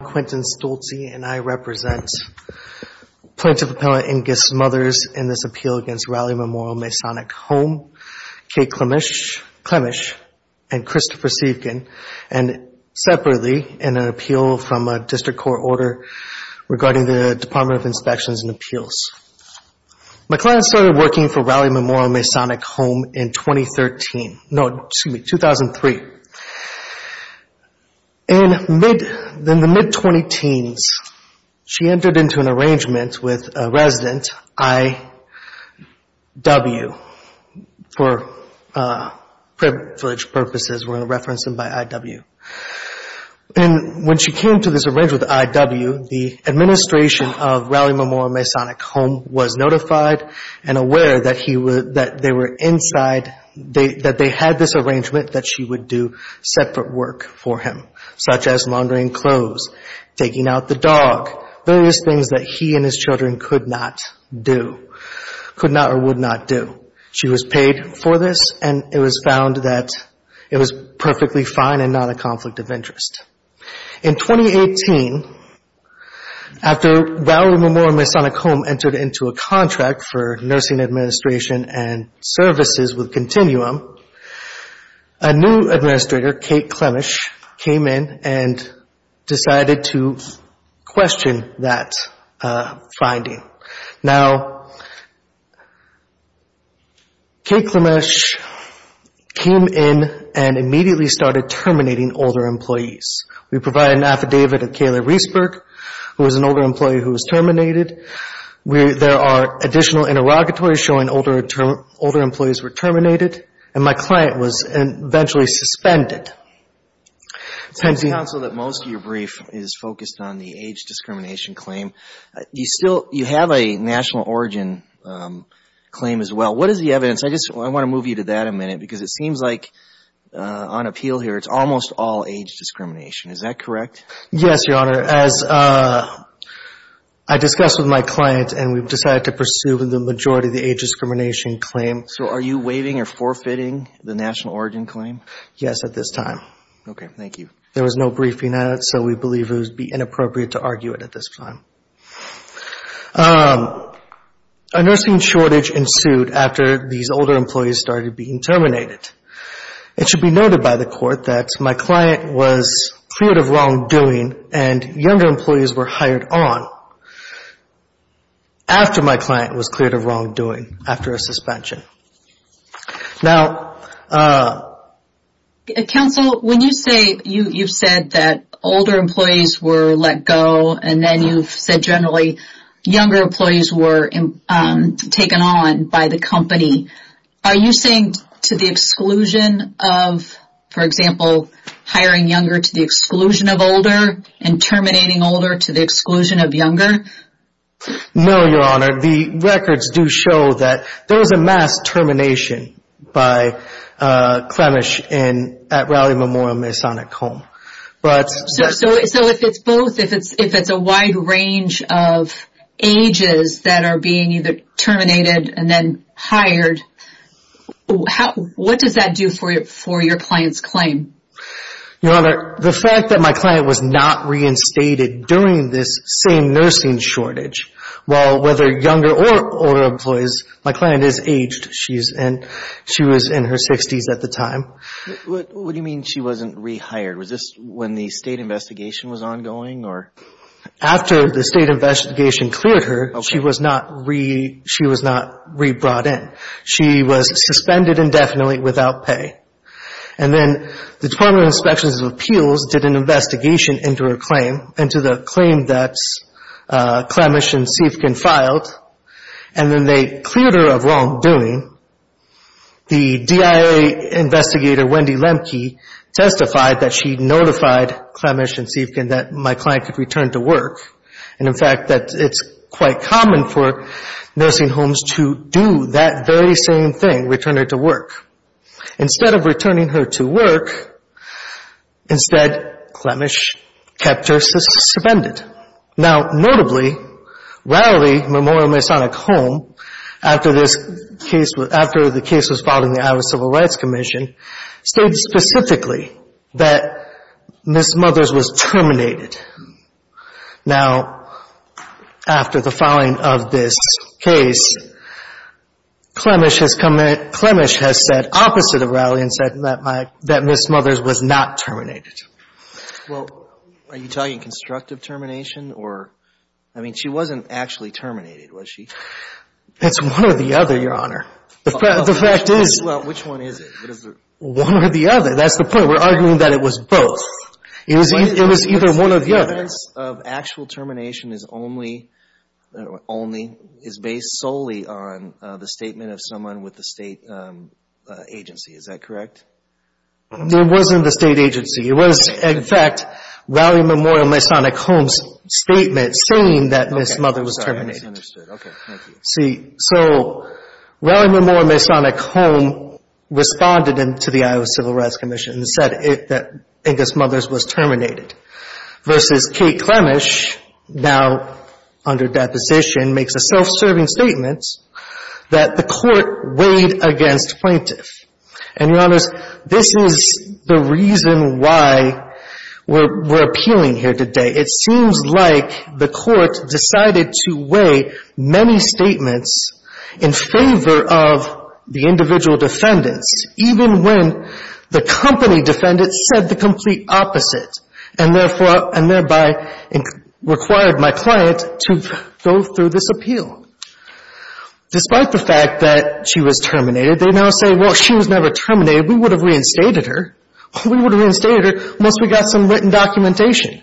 and I represent Plaintiff Appellant Inge Smothers in this appeal against Rowley Memorial Masonic Home, Kate Clemish, and Christopher Seivkin, and separately in an appeal from a District Court order regarding the Department of Inspections and Appeals. My client started working for Rowley Memorial Masonic Home in 2013, no, excuse me, 2003. In the mid-20-teens, she entered into an arrangement with a resident, I.W., for privilege purposes, we're going to reference him by I.W. And when she came to this arrangement with I.W., the administration of Rowley Memorial Masonic Home was notified and aware that they were inside, that they had this arrangement that she would do separate work for him, such as laundering clothes, taking out the dog, various things that he and his children could not do, could not or would not do. She was paid for this, and it was found that it was perfectly fine and not a conflict of interest. In 2018, after Rowley Memorial Masonic Home entered into a contract for nursing administration and services with Continuum, a new administrator, Kate Clemish, came in and decided to question that finding. Now, Kate Clemish came in and immediately started terminating older employees. We provided an affidavit of Kayla Reesburg, who was an older employee who was terminated. There are additional interrogatories showing older employees were terminated, and my client was eventually suspended. It's on the counsel that most of your brief is focused on the age discrimination claim. You still, you have a national origin claim as well. What is the evidence? I just want to move you to that a minute because it seems like, on appeal here, it's almost all age discrimination. Is that correct? Yes, Your Honor. As I discussed with my client and we've decided to pursue the majority of the age discrimination claim. So are you waiving or forfeiting the national origin claim? Yes, at this time. Okay. Thank you. There was no briefing on it, so we believe it would be inappropriate to argue it at this time. A nursing shortage ensued after these older employees started being terminated. It should be noted by the court that my client was cleared of wrongdoing and younger employees were hired on after my client was cleared of wrongdoing after a suspension. Now. Counsel, when you say, you've said that older employees were let go and then you've said generally younger employees were taken on by the company. Are you saying to the exclusion of, for example, hiring younger to the exclusion of older and terminating older to the exclusion of younger? No, Your Honor. The records do show that there was a mass termination by Clemish at Raleigh Memorial Masonic Home. So if it's both, if it's a wide range of ages that are being either terminated and then hired, what does that do for your client's claim? Your Honor, the fact that my client was not reinstated during this same nursing shortage, well, whether younger or older employees, my client is aged. She was in her 60s at the time. What do you mean she wasn't rehired? Was this when the state investigation was ongoing or? After the state investigation cleared her, she was not re-brought in. She was suspended indefinitely without pay. And then the Department of Inspections and Appeals did an investigation into her claim, into the claim that Clemish and Siefkin filed, and then they cleared her of wrongdoing. The DIA investigator, Wendy Lemke, testified that she notified Clemish and Siefkin that my client could return to work, and, in fact, that it's quite common for nursing homes to do that very same thing, return her to work. Instead of returning her to work, instead, Clemish kept her suspended. Now, notably, Rowley Memorial Masonic Home, after the case was filed in the Iowa Civil Rights Commission, stated specifically that Ms. Mothers was terminated. Now, after the filing of this case, Clemish has said opposite of Rowley and said that Ms. Mothers was not terminated. Well, are you talking constructive termination or? I mean, she wasn't actually terminated, was she? It's one or the other, Your Honor. The fact is. Well, which one is it? One or the other. That's the point. We're arguing that it was both. It was either one or the other. The evidence of actual termination is based solely on the statement of someone with the state agency. Is that correct? It wasn't the state agency. It was, in fact, Rowley Memorial Masonic Home's statement saying that Ms. Mother was terminated. Okay, I'm sorry. I misunderstood. Okay, thank you. See, so Rowley Memorial Masonic Home responded to the Iowa Civil Rights Commission and said that Ingus Mothers was terminated versus Kate Clemish now under deposition makes a self-serving statement that the court weighed against plaintiff. And, Your Honors, this is the reason why we're appealing here today. It seems like the court decided to weigh many statements in favor of the individual defendants, even when the company defendants said the complete opposite and thereby required my client to go through this appeal. Despite the fact that she was terminated, they now say, well, she was never terminated. We would have reinstated her. We would have reinstated her once we got some written documentation.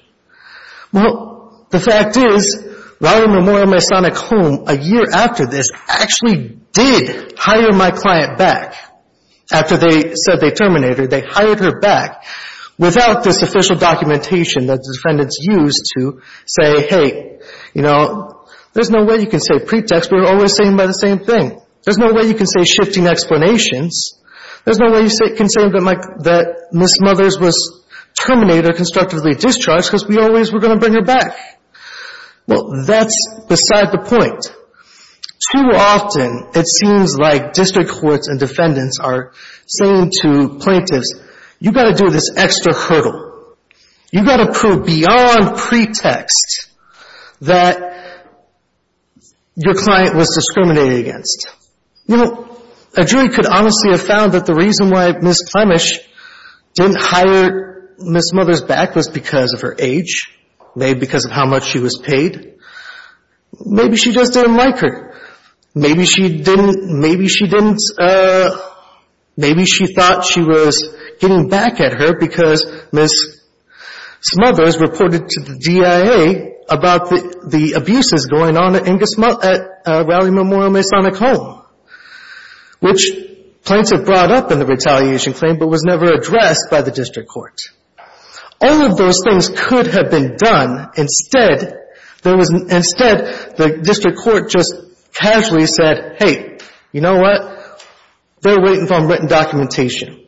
Well, the fact is Rowley Memorial Masonic Home, a year after this, actually did hire my client back after they said they terminated her. They hired her back without this official documentation that the defendants used to say, hey, you know, there's no way you can say pretext. We're always saying about the same thing. There's no way you can say shifting explanations. There's no way you can say that Ms. Mothers was terminated or constructively discharged because we always were going to bring her back. Well, that's beside the point. Too often it seems like district courts and defendants are saying to plaintiffs, you've got to do this extra hurdle. You've got to prove beyond pretext that your client was discriminated against. You know, a jury could honestly have found that the reason why Ms. Plemish didn't hire Ms. Mothers back was because of her age, maybe because of how much she was paid. Maybe she just didn't like her. Maybe she thought she was getting back at her because Ms. Mothers reported to the DIA about the abuses going on at Raleigh Memorial Masonic Home, which plaintiffs brought up in the retaliation claim but was never addressed by the district court. All of those things could have been done. Instead, the district court just casually said, hey, you know what? They're waiting for written documentation.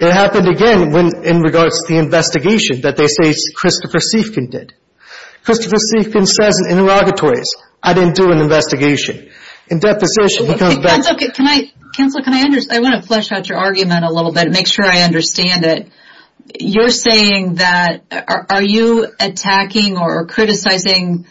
It happened again in regards to the investigation that they say Christopher Seifkin did. Christopher Seifkin says in interrogatories, I didn't do an investigation. In deposition, he comes back. Counselor, I want to flesh out your argument a little bit and make sure I understand it. You're saying that are you attacking or criticizing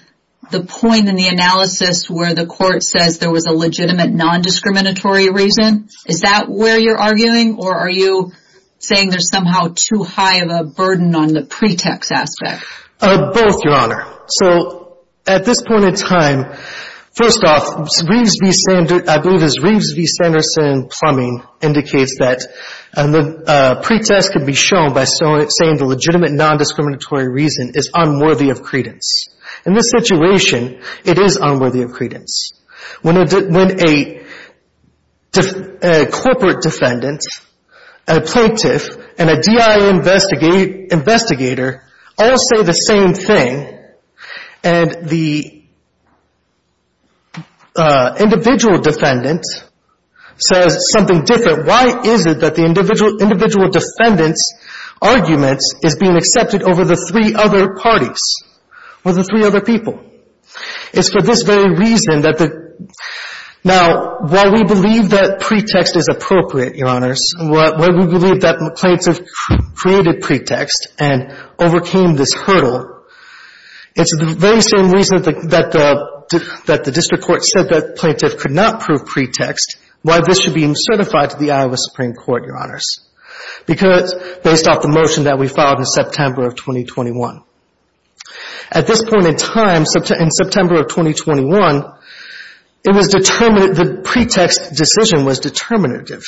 the point in the analysis where the court says there was a legitimate non-discriminatory reason? Is that where you're arguing? Or are you saying there's somehow too high of a burden on the pretext aspect? Both, Your Honor. So at this point in time, first off, I believe as Reeves v. Sanderson plumbing indicates that the pretext could be shown by saying the legitimate non-discriminatory reason is unworthy of credence. In this situation, it is unworthy of credence. When a corporate defendant, a plaintiff, and a DIA investigator all say the same thing and the individual defendant says something different, why is it that the individual defendant's argument is being accepted over the three other parties, over the three other people? It's for this very reason that the — now, while we believe that pretext is appropriate, Your Honors, while we believe that the plaintiff created pretext and overcame this hurdle, it's the very same reason that the district court said that the plaintiff could not prove pretext, why this should be certified to the Iowa Supreme Court, Your Honors, based off the motion that we filed in September of 2021. At this point in time, in September of 2021, it was determined — the pretext decision was determinative.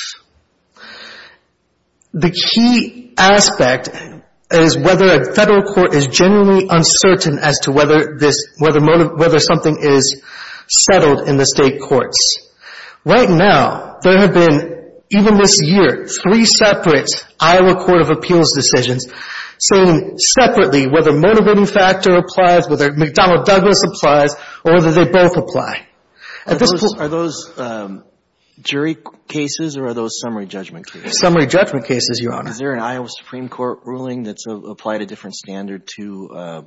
The key aspect is whether a federal court is genuinely uncertain as to whether this — whether something is settled in the state courts. Right now, there have been, even this year, three separate Iowa Court of Appeals decisions saying separately whether the motivating factor applies, whether McDonnell-Douglas applies, or whether they both apply. Are those jury cases or are those summary judgment cases? Summary judgment cases, Your Honor. Is there an Iowa Supreme Court ruling that's applied a different standard to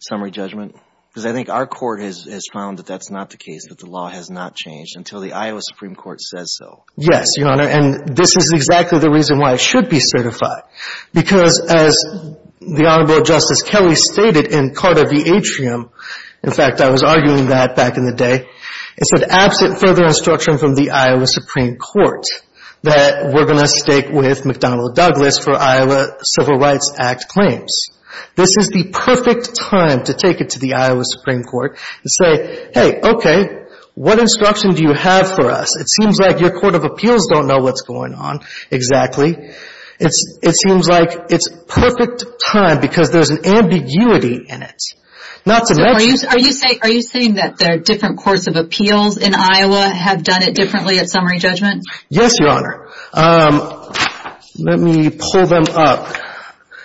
summary judgment? Because I think our court has found that that's not the case, that the law has not changed until the Iowa Supreme Court says so. Yes, Your Honor, and this is exactly the reason why it should be certified because, as the Honorable Justice Kelly stated in Carter v. Atrium — in fact, I was arguing that back in the day — it said, absent further instruction from the Iowa Supreme Court, that we're going to stake with McDonnell-Douglas for Iowa Civil Rights Act claims. This is the perfect time to take it to the Iowa Supreme Court and say, hey, okay, what instruction do you have for us? It seems like your court of appeals don't know what's going on. Exactly. It seems like it's perfect time because there's an ambiguity in it, not to let — So are you saying that there are different courts of appeals in Iowa have done it differently at summary judgment? Yes, Your Honor. Let me pull them up.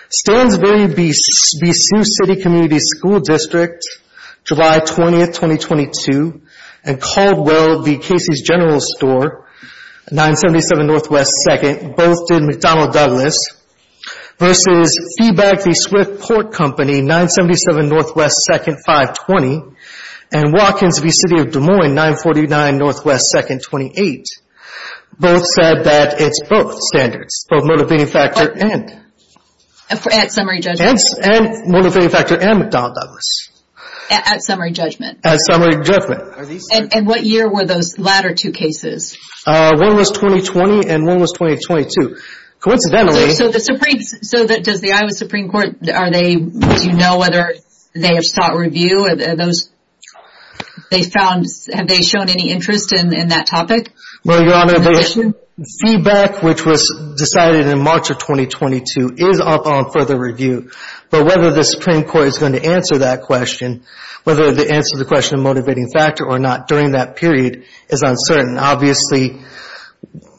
Stansbury v. Sioux City Community School District, July 20, 2022, and Caldwell v. Casey's General Store, 977 Northwest 2nd, both did McDonnell-Douglas, versus Feeback v. Swift Port Company, 977 Northwest 2nd, 520, and Watkins v. City of Des Moines, 949 Northwest 2nd, 28. Both said that it's both standards, both motivating factor and — At summary judgment. And motivating factor and McDonnell-Douglas. At summary judgment. At summary judgment. And what year were those latter two cases? One was 2020 and one was 2022. Coincidentally — So does the Iowa Supreme Court, do you know whether they have sought review? Have they shown any interest in that topic? Well, Your Honor, Feeback, which was decided in March of 2022, is up on further review. But whether the Supreme Court is going to answer that question, whether they answer the question of motivating factor or not during that period is uncertain. Obviously,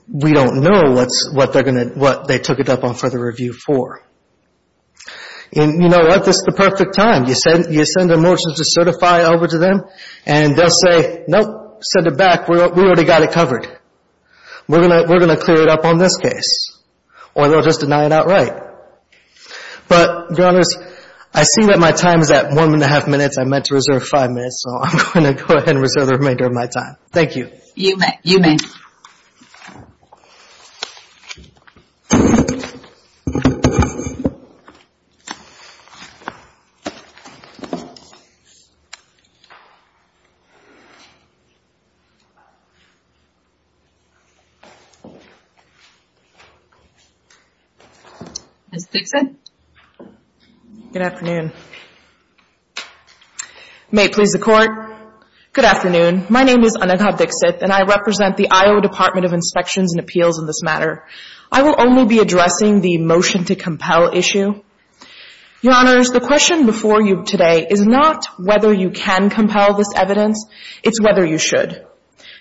we don't know what they took it up on further review for. And you know what? This is the perfect time. You send a motion to certify over to them, and they'll say, nope, send it back. We already got it covered. We're going to clear it up on this case. Or they'll just deny it outright. But, Your Honors, I see that my time is at one and a half minutes. I meant to reserve five minutes, so I'm going to go ahead and reserve the remainder of my time. Thank you. You may. You may. Ms. Dixit. Good afternoon. May it please the Court. Good afternoon. My name is Anagha Dixit, and I represent the Iowa Department of Inspections and Appeals in this matter. I will only be addressing the motion to compel issue. Your Honors, the question before you today is not whether you can compel this evidence. It's whether you should.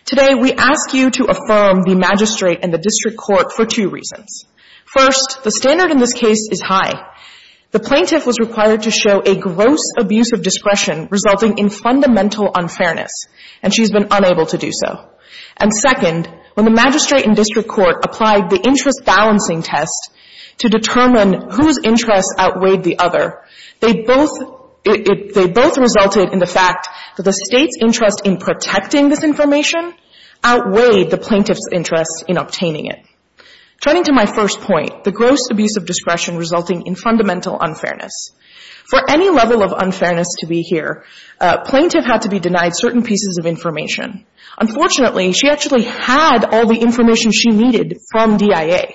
Today, we ask you to affirm the magistrate and the district court for two reasons. First, the standard in this case is high. The plaintiff was required to show a gross abuse of discretion resulting in fundamental unfairness, and she's been unable to do so. And second, when the magistrate and district court applied the interest-balancing test to determine whose interests outweighed the other, they both resulted in the fact that the State's interest in protecting this information outweighed the plaintiff's interest in obtaining it. Turning to my first point, the gross abuse of discretion resulting in fundamental unfairness. For any level of unfairness to be here, a plaintiff had to be denied certain pieces of information. Unfortunately, she actually had all the information she needed from DIA.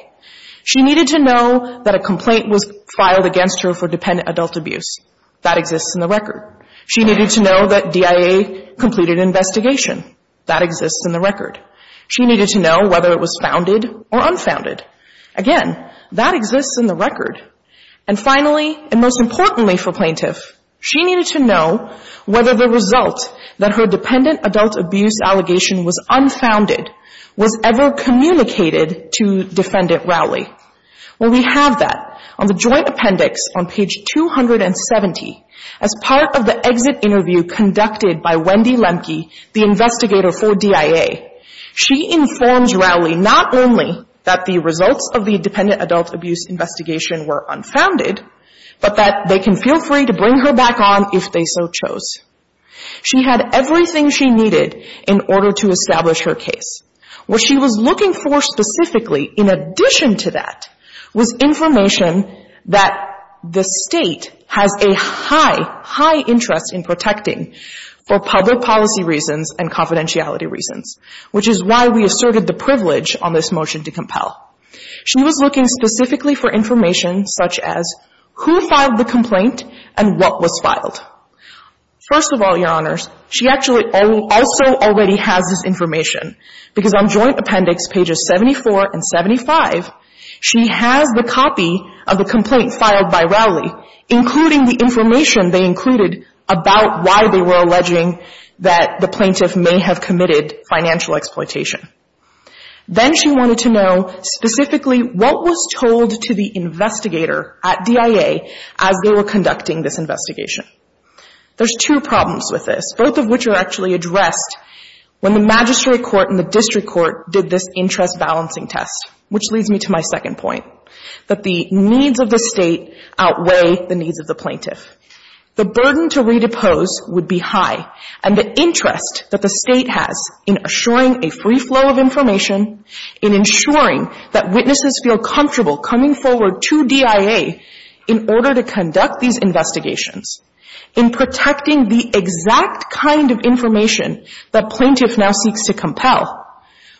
She needed to know that a complaint was filed against her for dependent adult abuse. That exists in the record. She needed to know that DIA completed an investigation. That exists in the record. She needed to know whether it was founded or unfounded. Again, that exists in the record. And finally, and most importantly for plaintiff, she needed to know whether the result that her dependent adult abuse allegation was unfounded was ever communicated to Defendant Rowley. Well, we have that on the joint appendix on page 270 as part of the exit interview conducted by Wendy Lemke, the investigator for DIA. She informs Rowley not only that the results of the dependent adult abuse investigation were unfounded, but that they can feel free to bring her back on if they so chose. She had everything she needed in order to establish her case. What she was looking for specifically in addition to that was information that the State has a high, high interest in protecting for public policy reasons and confidentiality reasons, which is why we asserted the privilege on this motion to compel. She was looking specifically for information such as who filed the complaint and what was filed. First of all, Your Honors, she actually also already has this information because on joint appendix pages 74 and 75, she has the copy of the complaint filed by Rowley, including the information they included about why they were alleging that the plaintiff may have committed financial exploitation. Then she wanted to know specifically what was told to the investigator at DIA as they were conducting this investigation. There's two problems with this, both of which are actually addressed when the magistrate court and the district court did this interest balancing test, which leads me to my second point, that the needs of the State outweigh the needs of the plaintiff. The burden to redepose would be high, and the interest that the State has in assuring a free flow of information, in ensuring that witnesses feel comfortable coming forward to DIA in order to conduct these investigations, in protecting the exact kind of information that plaintiff now seeks to compel.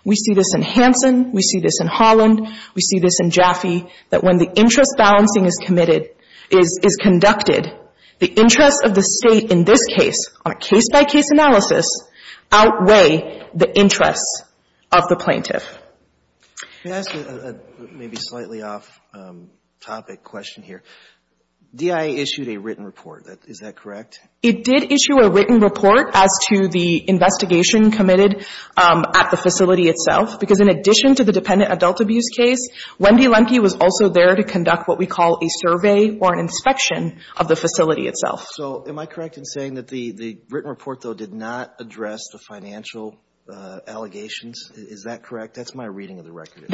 We see this in Hanson. We see this in Holland. We see this in Jaffe, that when the interest balancing is committed, is conducted, the interests of the State in this case, on a case-by-case analysis, outweigh the interests of the plaintiff. Can I ask a maybe slightly off-topic question here? DIA issued a written report. Is that correct? It did issue a written report as to the investigation committed at the facility itself, because in addition to the dependent adult abuse case, Wendy Lemke was also there to conduct what we call a survey or an inspection of the facility itself. So am I correct in saying that the written report, though, did not address the financial allegations? Is that correct? That's my reading of the record.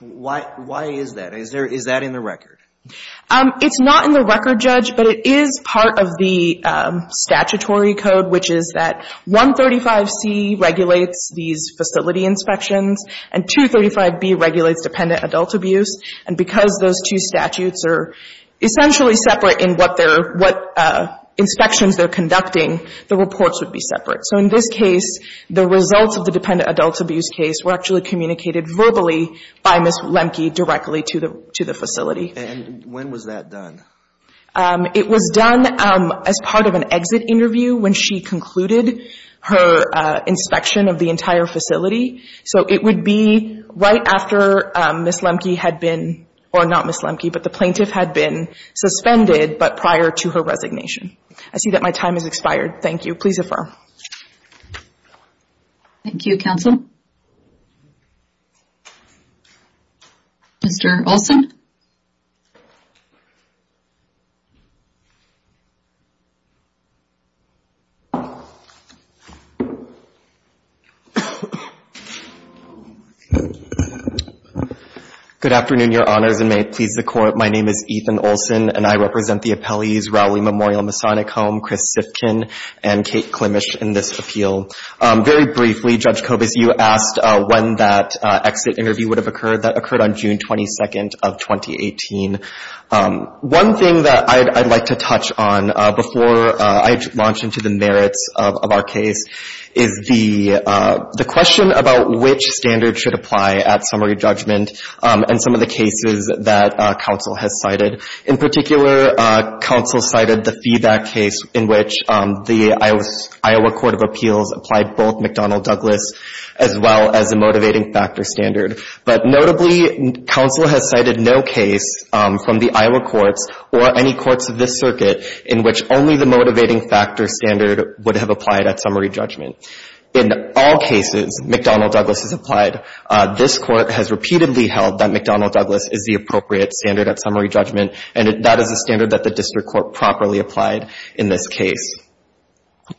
Why is that? Is that in the record? It's not in the record, Judge, but it is part of the statutory code, which is that 135C regulates these facility inspections, and 235B regulates dependent adult abuse. And because those two statutes are essentially separate in what they're, what inspections they're conducting, the reports would be separate. So in this case, the results of the dependent adult abuse case were actually communicated verbally by Ms. Lemke directly to the facility. And when was that done? It was done as part of an exit interview when she concluded her inspection of the entire facility. So it would be right after Ms. Lemke had been, or not Ms. Lemke, but the plaintiff had been suspended, but prior to her resignation. I see that my time has expired. Thank you. Please affirm. Thank you, Counsel. Mr. Olson? Good afternoon, Your Honors, and may it please the Court. My name is Ethan Olson, and I represent the appellees Rowley Memorial Masonic Home, Chris Sifkin, and Kate Klimisch in this appeal. Very briefly, Judge Kobus, you asked when that exit interview would have occurred. That occurred on June 22nd of 2018. One thing that I'd like to touch on before I launch into the merits of our case is the question about which standard should apply at summary judgment and some of the cases that Counsel has cited. In particular, Counsel cited the feedback case in which the Iowa Court of Appeals applied both McDonnell-Douglas as well as the motivating factor standard. But notably, Counsel has cited no case from the Iowa courts or any courts of this circuit in which only the motivating factor standard would have applied at summary judgment. In all cases, McDonnell-Douglas has applied. This Court has repeatedly held that McDonnell-Douglas is the appropriate standard at summary judgment, and that is a standard that the District Court properly applied in this case.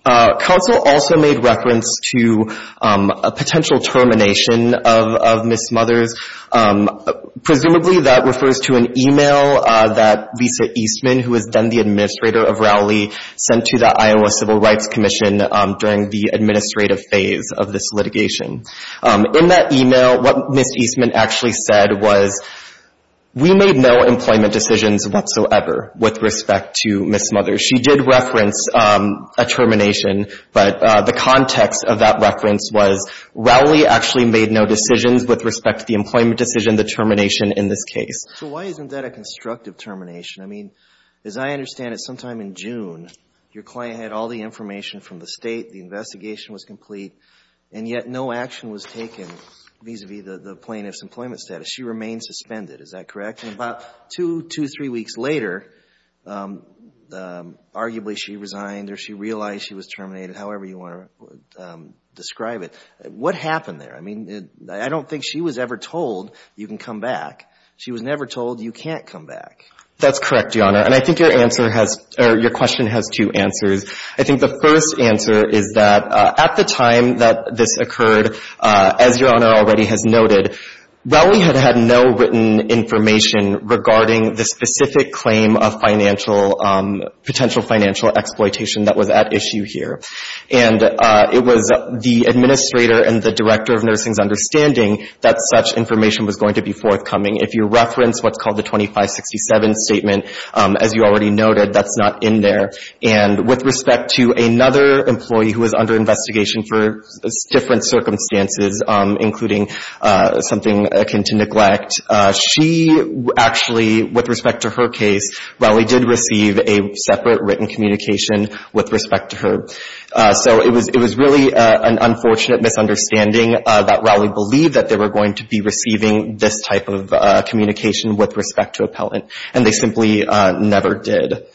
Counsel also made reference to a potential termination of Ms. Mothers. Presumably, that refers to an email that Lisa Eastman, who is then the administrator of Rowley, sent to the Iowa Civil Rights Commission during the administrative phase of this litigation. In that email, what Ms. Eastman actually said was, we made no employment decisions whatsoever with respect to Ms. Mothers. She did reference a termination, but the context of that reference was, Rowley actually made no decisions with respect to the employment decision, the termination in this case. So why isn't that a constructive termination? I mean, as I understand it, sometime in June, your client had all the information from the State, the investigation was complete, and yet no action was taken vis-à-vis the plaintiff's employment status. She remained suspended. Is that correct? And about two, three weeks later, arguably she resigned or she realized she was terminated, however you want to describe it. What happened there? I mean, I don't think she was ever told, you can come back. She was never told, you can't come back. That's correct, Your Honor. And I think your question has two answers. I think the first answer is that at the time that this occurred, as Your Honor already has noted, Rowley had had no written information regarding the specific claim of financial, potential financial exploitation that was at issue here. And it was the administrator and the director of nursing's understanding that such information was going to be forthcoming. If you reference what's called the 2567 statement, as you already noted, that's not in there. And with respect to another employee who was under investigation for different circumstances, including something akin to neglect, she actually, with respect to her case, Rowley did receive a separate written communication with respect to her. So it was really an unfortunate misunderstanding that Rowley believed that they were going to be receiving this type of communication with respect to appellant, and they simply never did.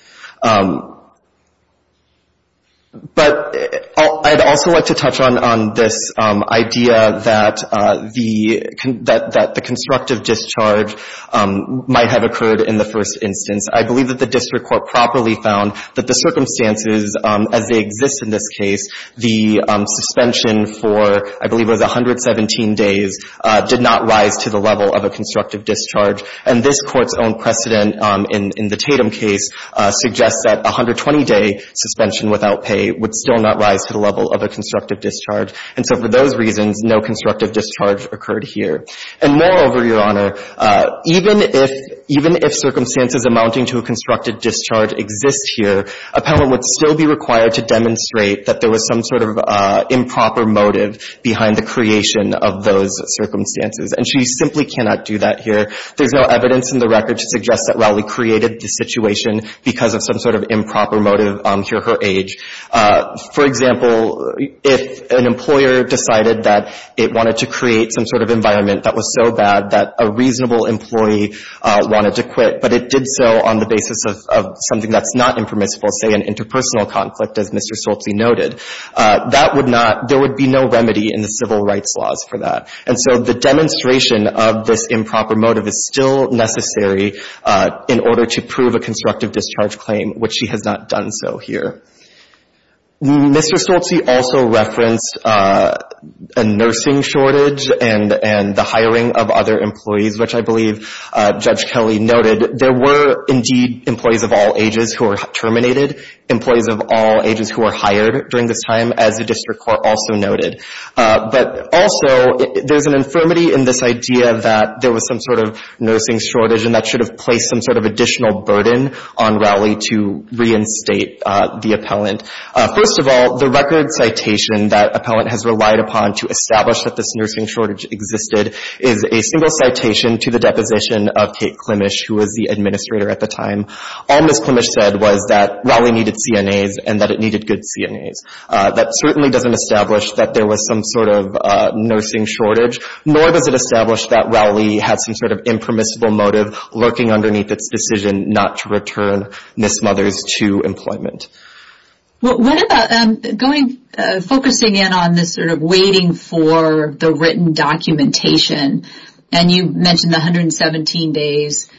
But I'd also like to touch on this idea that the constructive discharge might have occurred in the first instance. I believe that the district court properly found that the circumstances, as they exist in this case, the suspension for, I believe it was 117 days, did not rise to the level of a constructive discharge. And this Court's own precedent in the Tatum case suggests that 120-day suspension without pay would still not rise to the level of a constructive discharge. And so for those reasons, no constructive discharge occurred here. And moreover, Your Honor, even if circumstances amounting to a constructive discharge exist here, appellant would still be required to demonstrate that there was some sort of improper motive behind the creation of those circumstances. And she simply cannot do that here. There's no evidence in the record to suggest that Rowley created the situation because of some sort of improper motive to her age. For example, if an employer decided that it wanted to create some sort of environment that was so bad that a reasonable employee wanted to quit, but it did so on the basis of something that's not impermissible, say an interpersonal conflict, as Mr. Soltzi noted, that would not — there would be no remedy in the civil rights laws for that. And so the demonstration of this improper motive is still necessary in order to prove a constructive discharge claim, which she has not done so here. Mr. Soltzi also referenced a nursing shortage and the hiring of other employees, which I believe Judge Kelly noted. There were, indeed, employees of all ages who were terminated, employees of all ages who were hired during this time, as the district court also noted. But also, there's an infirmity in this idea that there was some sort of nursing shortage, and that should have placed some sort of additional burden on Rowley to reinstate the appellant. First of all, the record citation that appellant has relied upon to establish that this nursing shortage existed is a single citation to the deposition of Kate Klimisch, who was the administrator at the time. All Ms. Klimisch said was that Rowley needed CNAs and that it needed good CNAs. That certainly doesn't establish that there was some sort of nursing shortage, nor does it establish that Rowley had some sort of impermissible motive lurking underneath its decision not to return Ms. Mothers to employment. What about focusing in on this sort of waiting for the written documentation, and you mentioned the 117 days.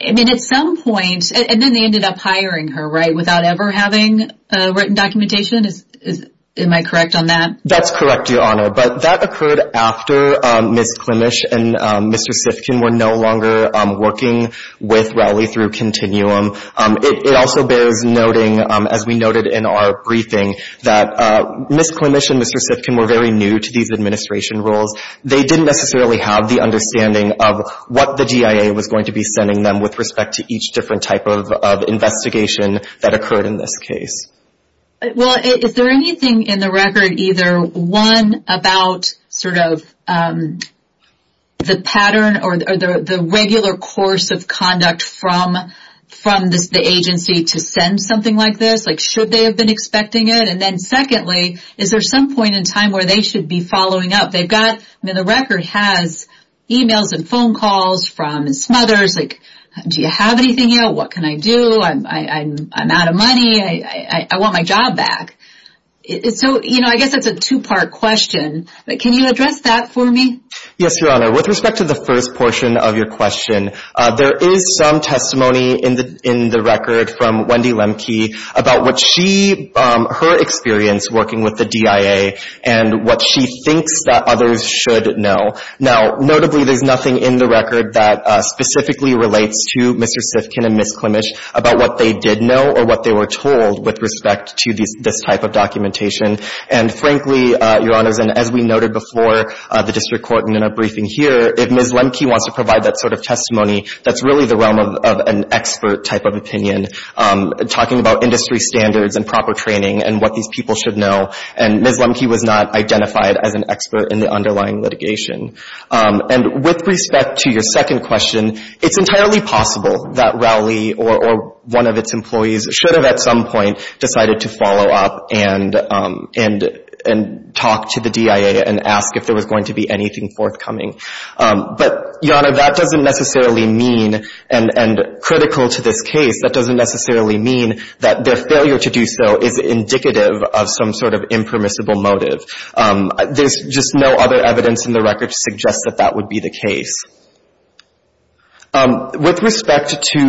I mean, at some point, and then they ended up hiring her, right, without ever having written documentation? Am I correct on that? That's correct, Your Honor. But that occurred after Ms. Klimisch and Mr. Sifkin were no longer working with Rowley through continuum. It also bears noting, as we noted in our briefing, that Ms. Klimisch and Mr. Sifkin were very new to these administration roles. They didn't necessarily have the understanding of what the GIA was going to be with respect to each different type of investigation that occurred in this case. Well, is there anything in the record either, one, about sort of the pattern or the regular course of conduct from the agency to send something like this? Like, should they have been expecting it? And then secondly, is there some point in time where they should be following up? I mean, the record has e-mails and phone calls from smothers, like, do you have anything yet? What can I do? I'm out of money. I want my job back. So, you know, I guess that's a two-part question. Can you address that for me? Yes, Your Honor. With respect to the first portion of your question, there is some testimony in the record from Wendy Lemke about what she, her experience working with the GIA and what she thinks that others should know. Now, notably, there's nothing in the record that specifically relates to Mr. Sifkin and Ms. Klimich about what they did know or what they were told with respect to this type of documentation. And frankly, Your Honors, and as we noted before the district court in a briefing here, if Ms. Lemke wants to provide that sort of testimony, that's really the realm of an expert type of opinion. Talking about industry standards and proper training and what these people should know, and Ms. Lemke was not identified as an expert in the underlying litigation. And with respect to your second question, it's entirely possible that Rowley or one of its employees should have at some point decided to follow up and talk to the GIA and ask if there was going to be anything forthcoming. But, Your Honor, that doesn't necessarily mean, and critical to this case, that doesn't necessarily mean that their failure to do so is indicative of some sort of impermissible motive. There's just no other evidence in the record to suggest that that would be the case. With respect to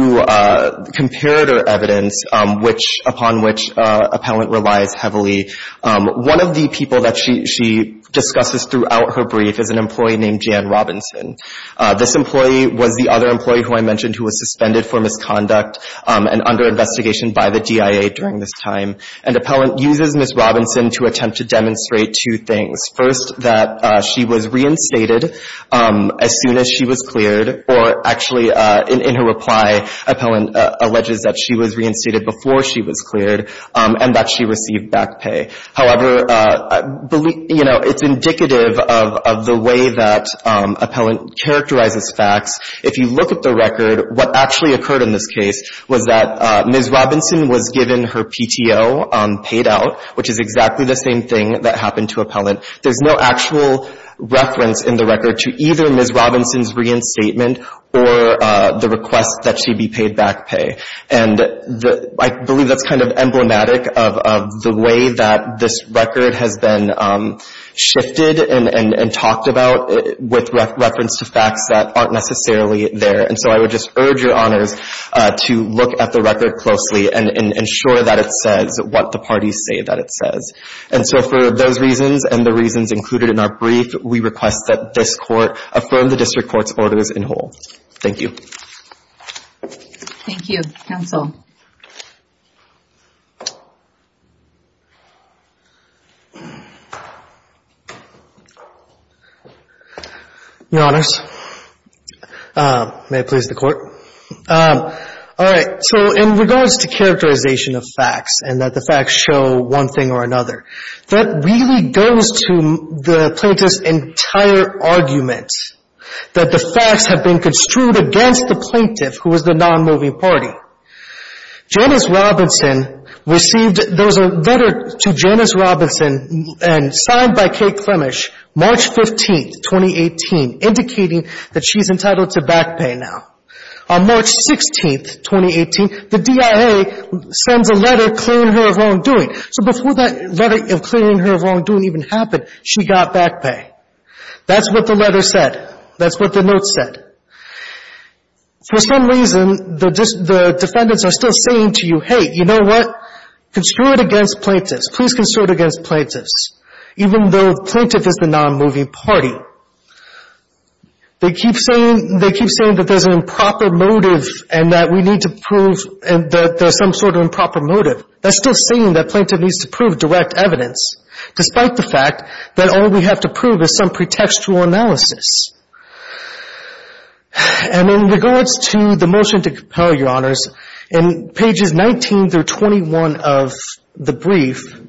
comparator evidence, which upon which appellant relies heavily, one of the people that she discusses throughout her brief is an employee named Jan Robinson. This employee was the other employee who I mentioned who was suspended for misconduct and under investigation by the GIA during this time. And appellant uses Ms. Robinson to attempt to demonstrate two things. First, that she was reinstated as soon as she was cleared, or actually, in her reply, appellant alleges that she was reinstated before she was cleared and that she received back pay. However, you know, it's indicative of the way that appellant characterizes facts. If you look at the record, what actually occurred in this case was that Ms. Robinson was given her PTO paid out, which is exactly the same thing that happened to appellant. There's no actual reference in the record to either Ms. Robinson's reinstatement or the request that she be paid back pay. And I believe that's kind of emblematic of the way that this record has been shifted and talked about with reference to facts that aren't necessarily there. And so I would just urge Your Honors to look at the record closely and ensure that it says what the parties say that it says. And so for those reasons and the reasons included in our brief, we request that this Court affirm the district court's orders in whole. Thank you. Thank you. Counsel. Your Honors, may it please the Court. All right. So in regards to characterization of facts and that the facts show one thing or another, that really goes to the plaintiff's entire argument that the facts have been construed against the plaintiff, who is the non-moving party. Janice Robinson received, there was a letter to Janice Robinson and signed by Kate Clemish March 15th, 2018, indicating that she's entitled to back pay now. On March 16th, 2018, the DIA sends a letter clearing her of wrongdoing. So before that letter of clearing her of wrongdoing even happened, she got back pay. That's what the letter said. That's what the note said. For some reason, the defendants are still saying to you, hey, you know what? Construe it against plaintiffs. Please construe it against plaintiffs, even though the plaintiff is the non-moving party. They keep saying that there's an improper motive and that we need to prove that there's some sort of improper motive. That's still saying that plaintiff needs to prove direct evidence, despite the fact that all we have to prove is some pretextual analysis. And in regards to the motion to compel, Your Honors, in pages 19 through 21 of the brief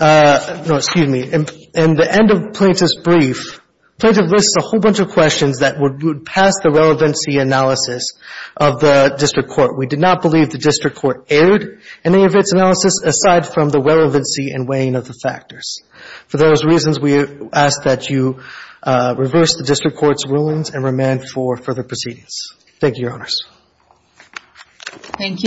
no, excuse me, in the end of plaintiff's brief, plaintiff lists a whole bunch of questions that would pass the relevancy analysis of the district court. We did not believe the district court aired any of its analysis aside from the relevancy and weighing of the factors. For those reasons, we ask that you reverse the district court's rulings and remand for further proceedings. Thank you, Your Honors. Thank you.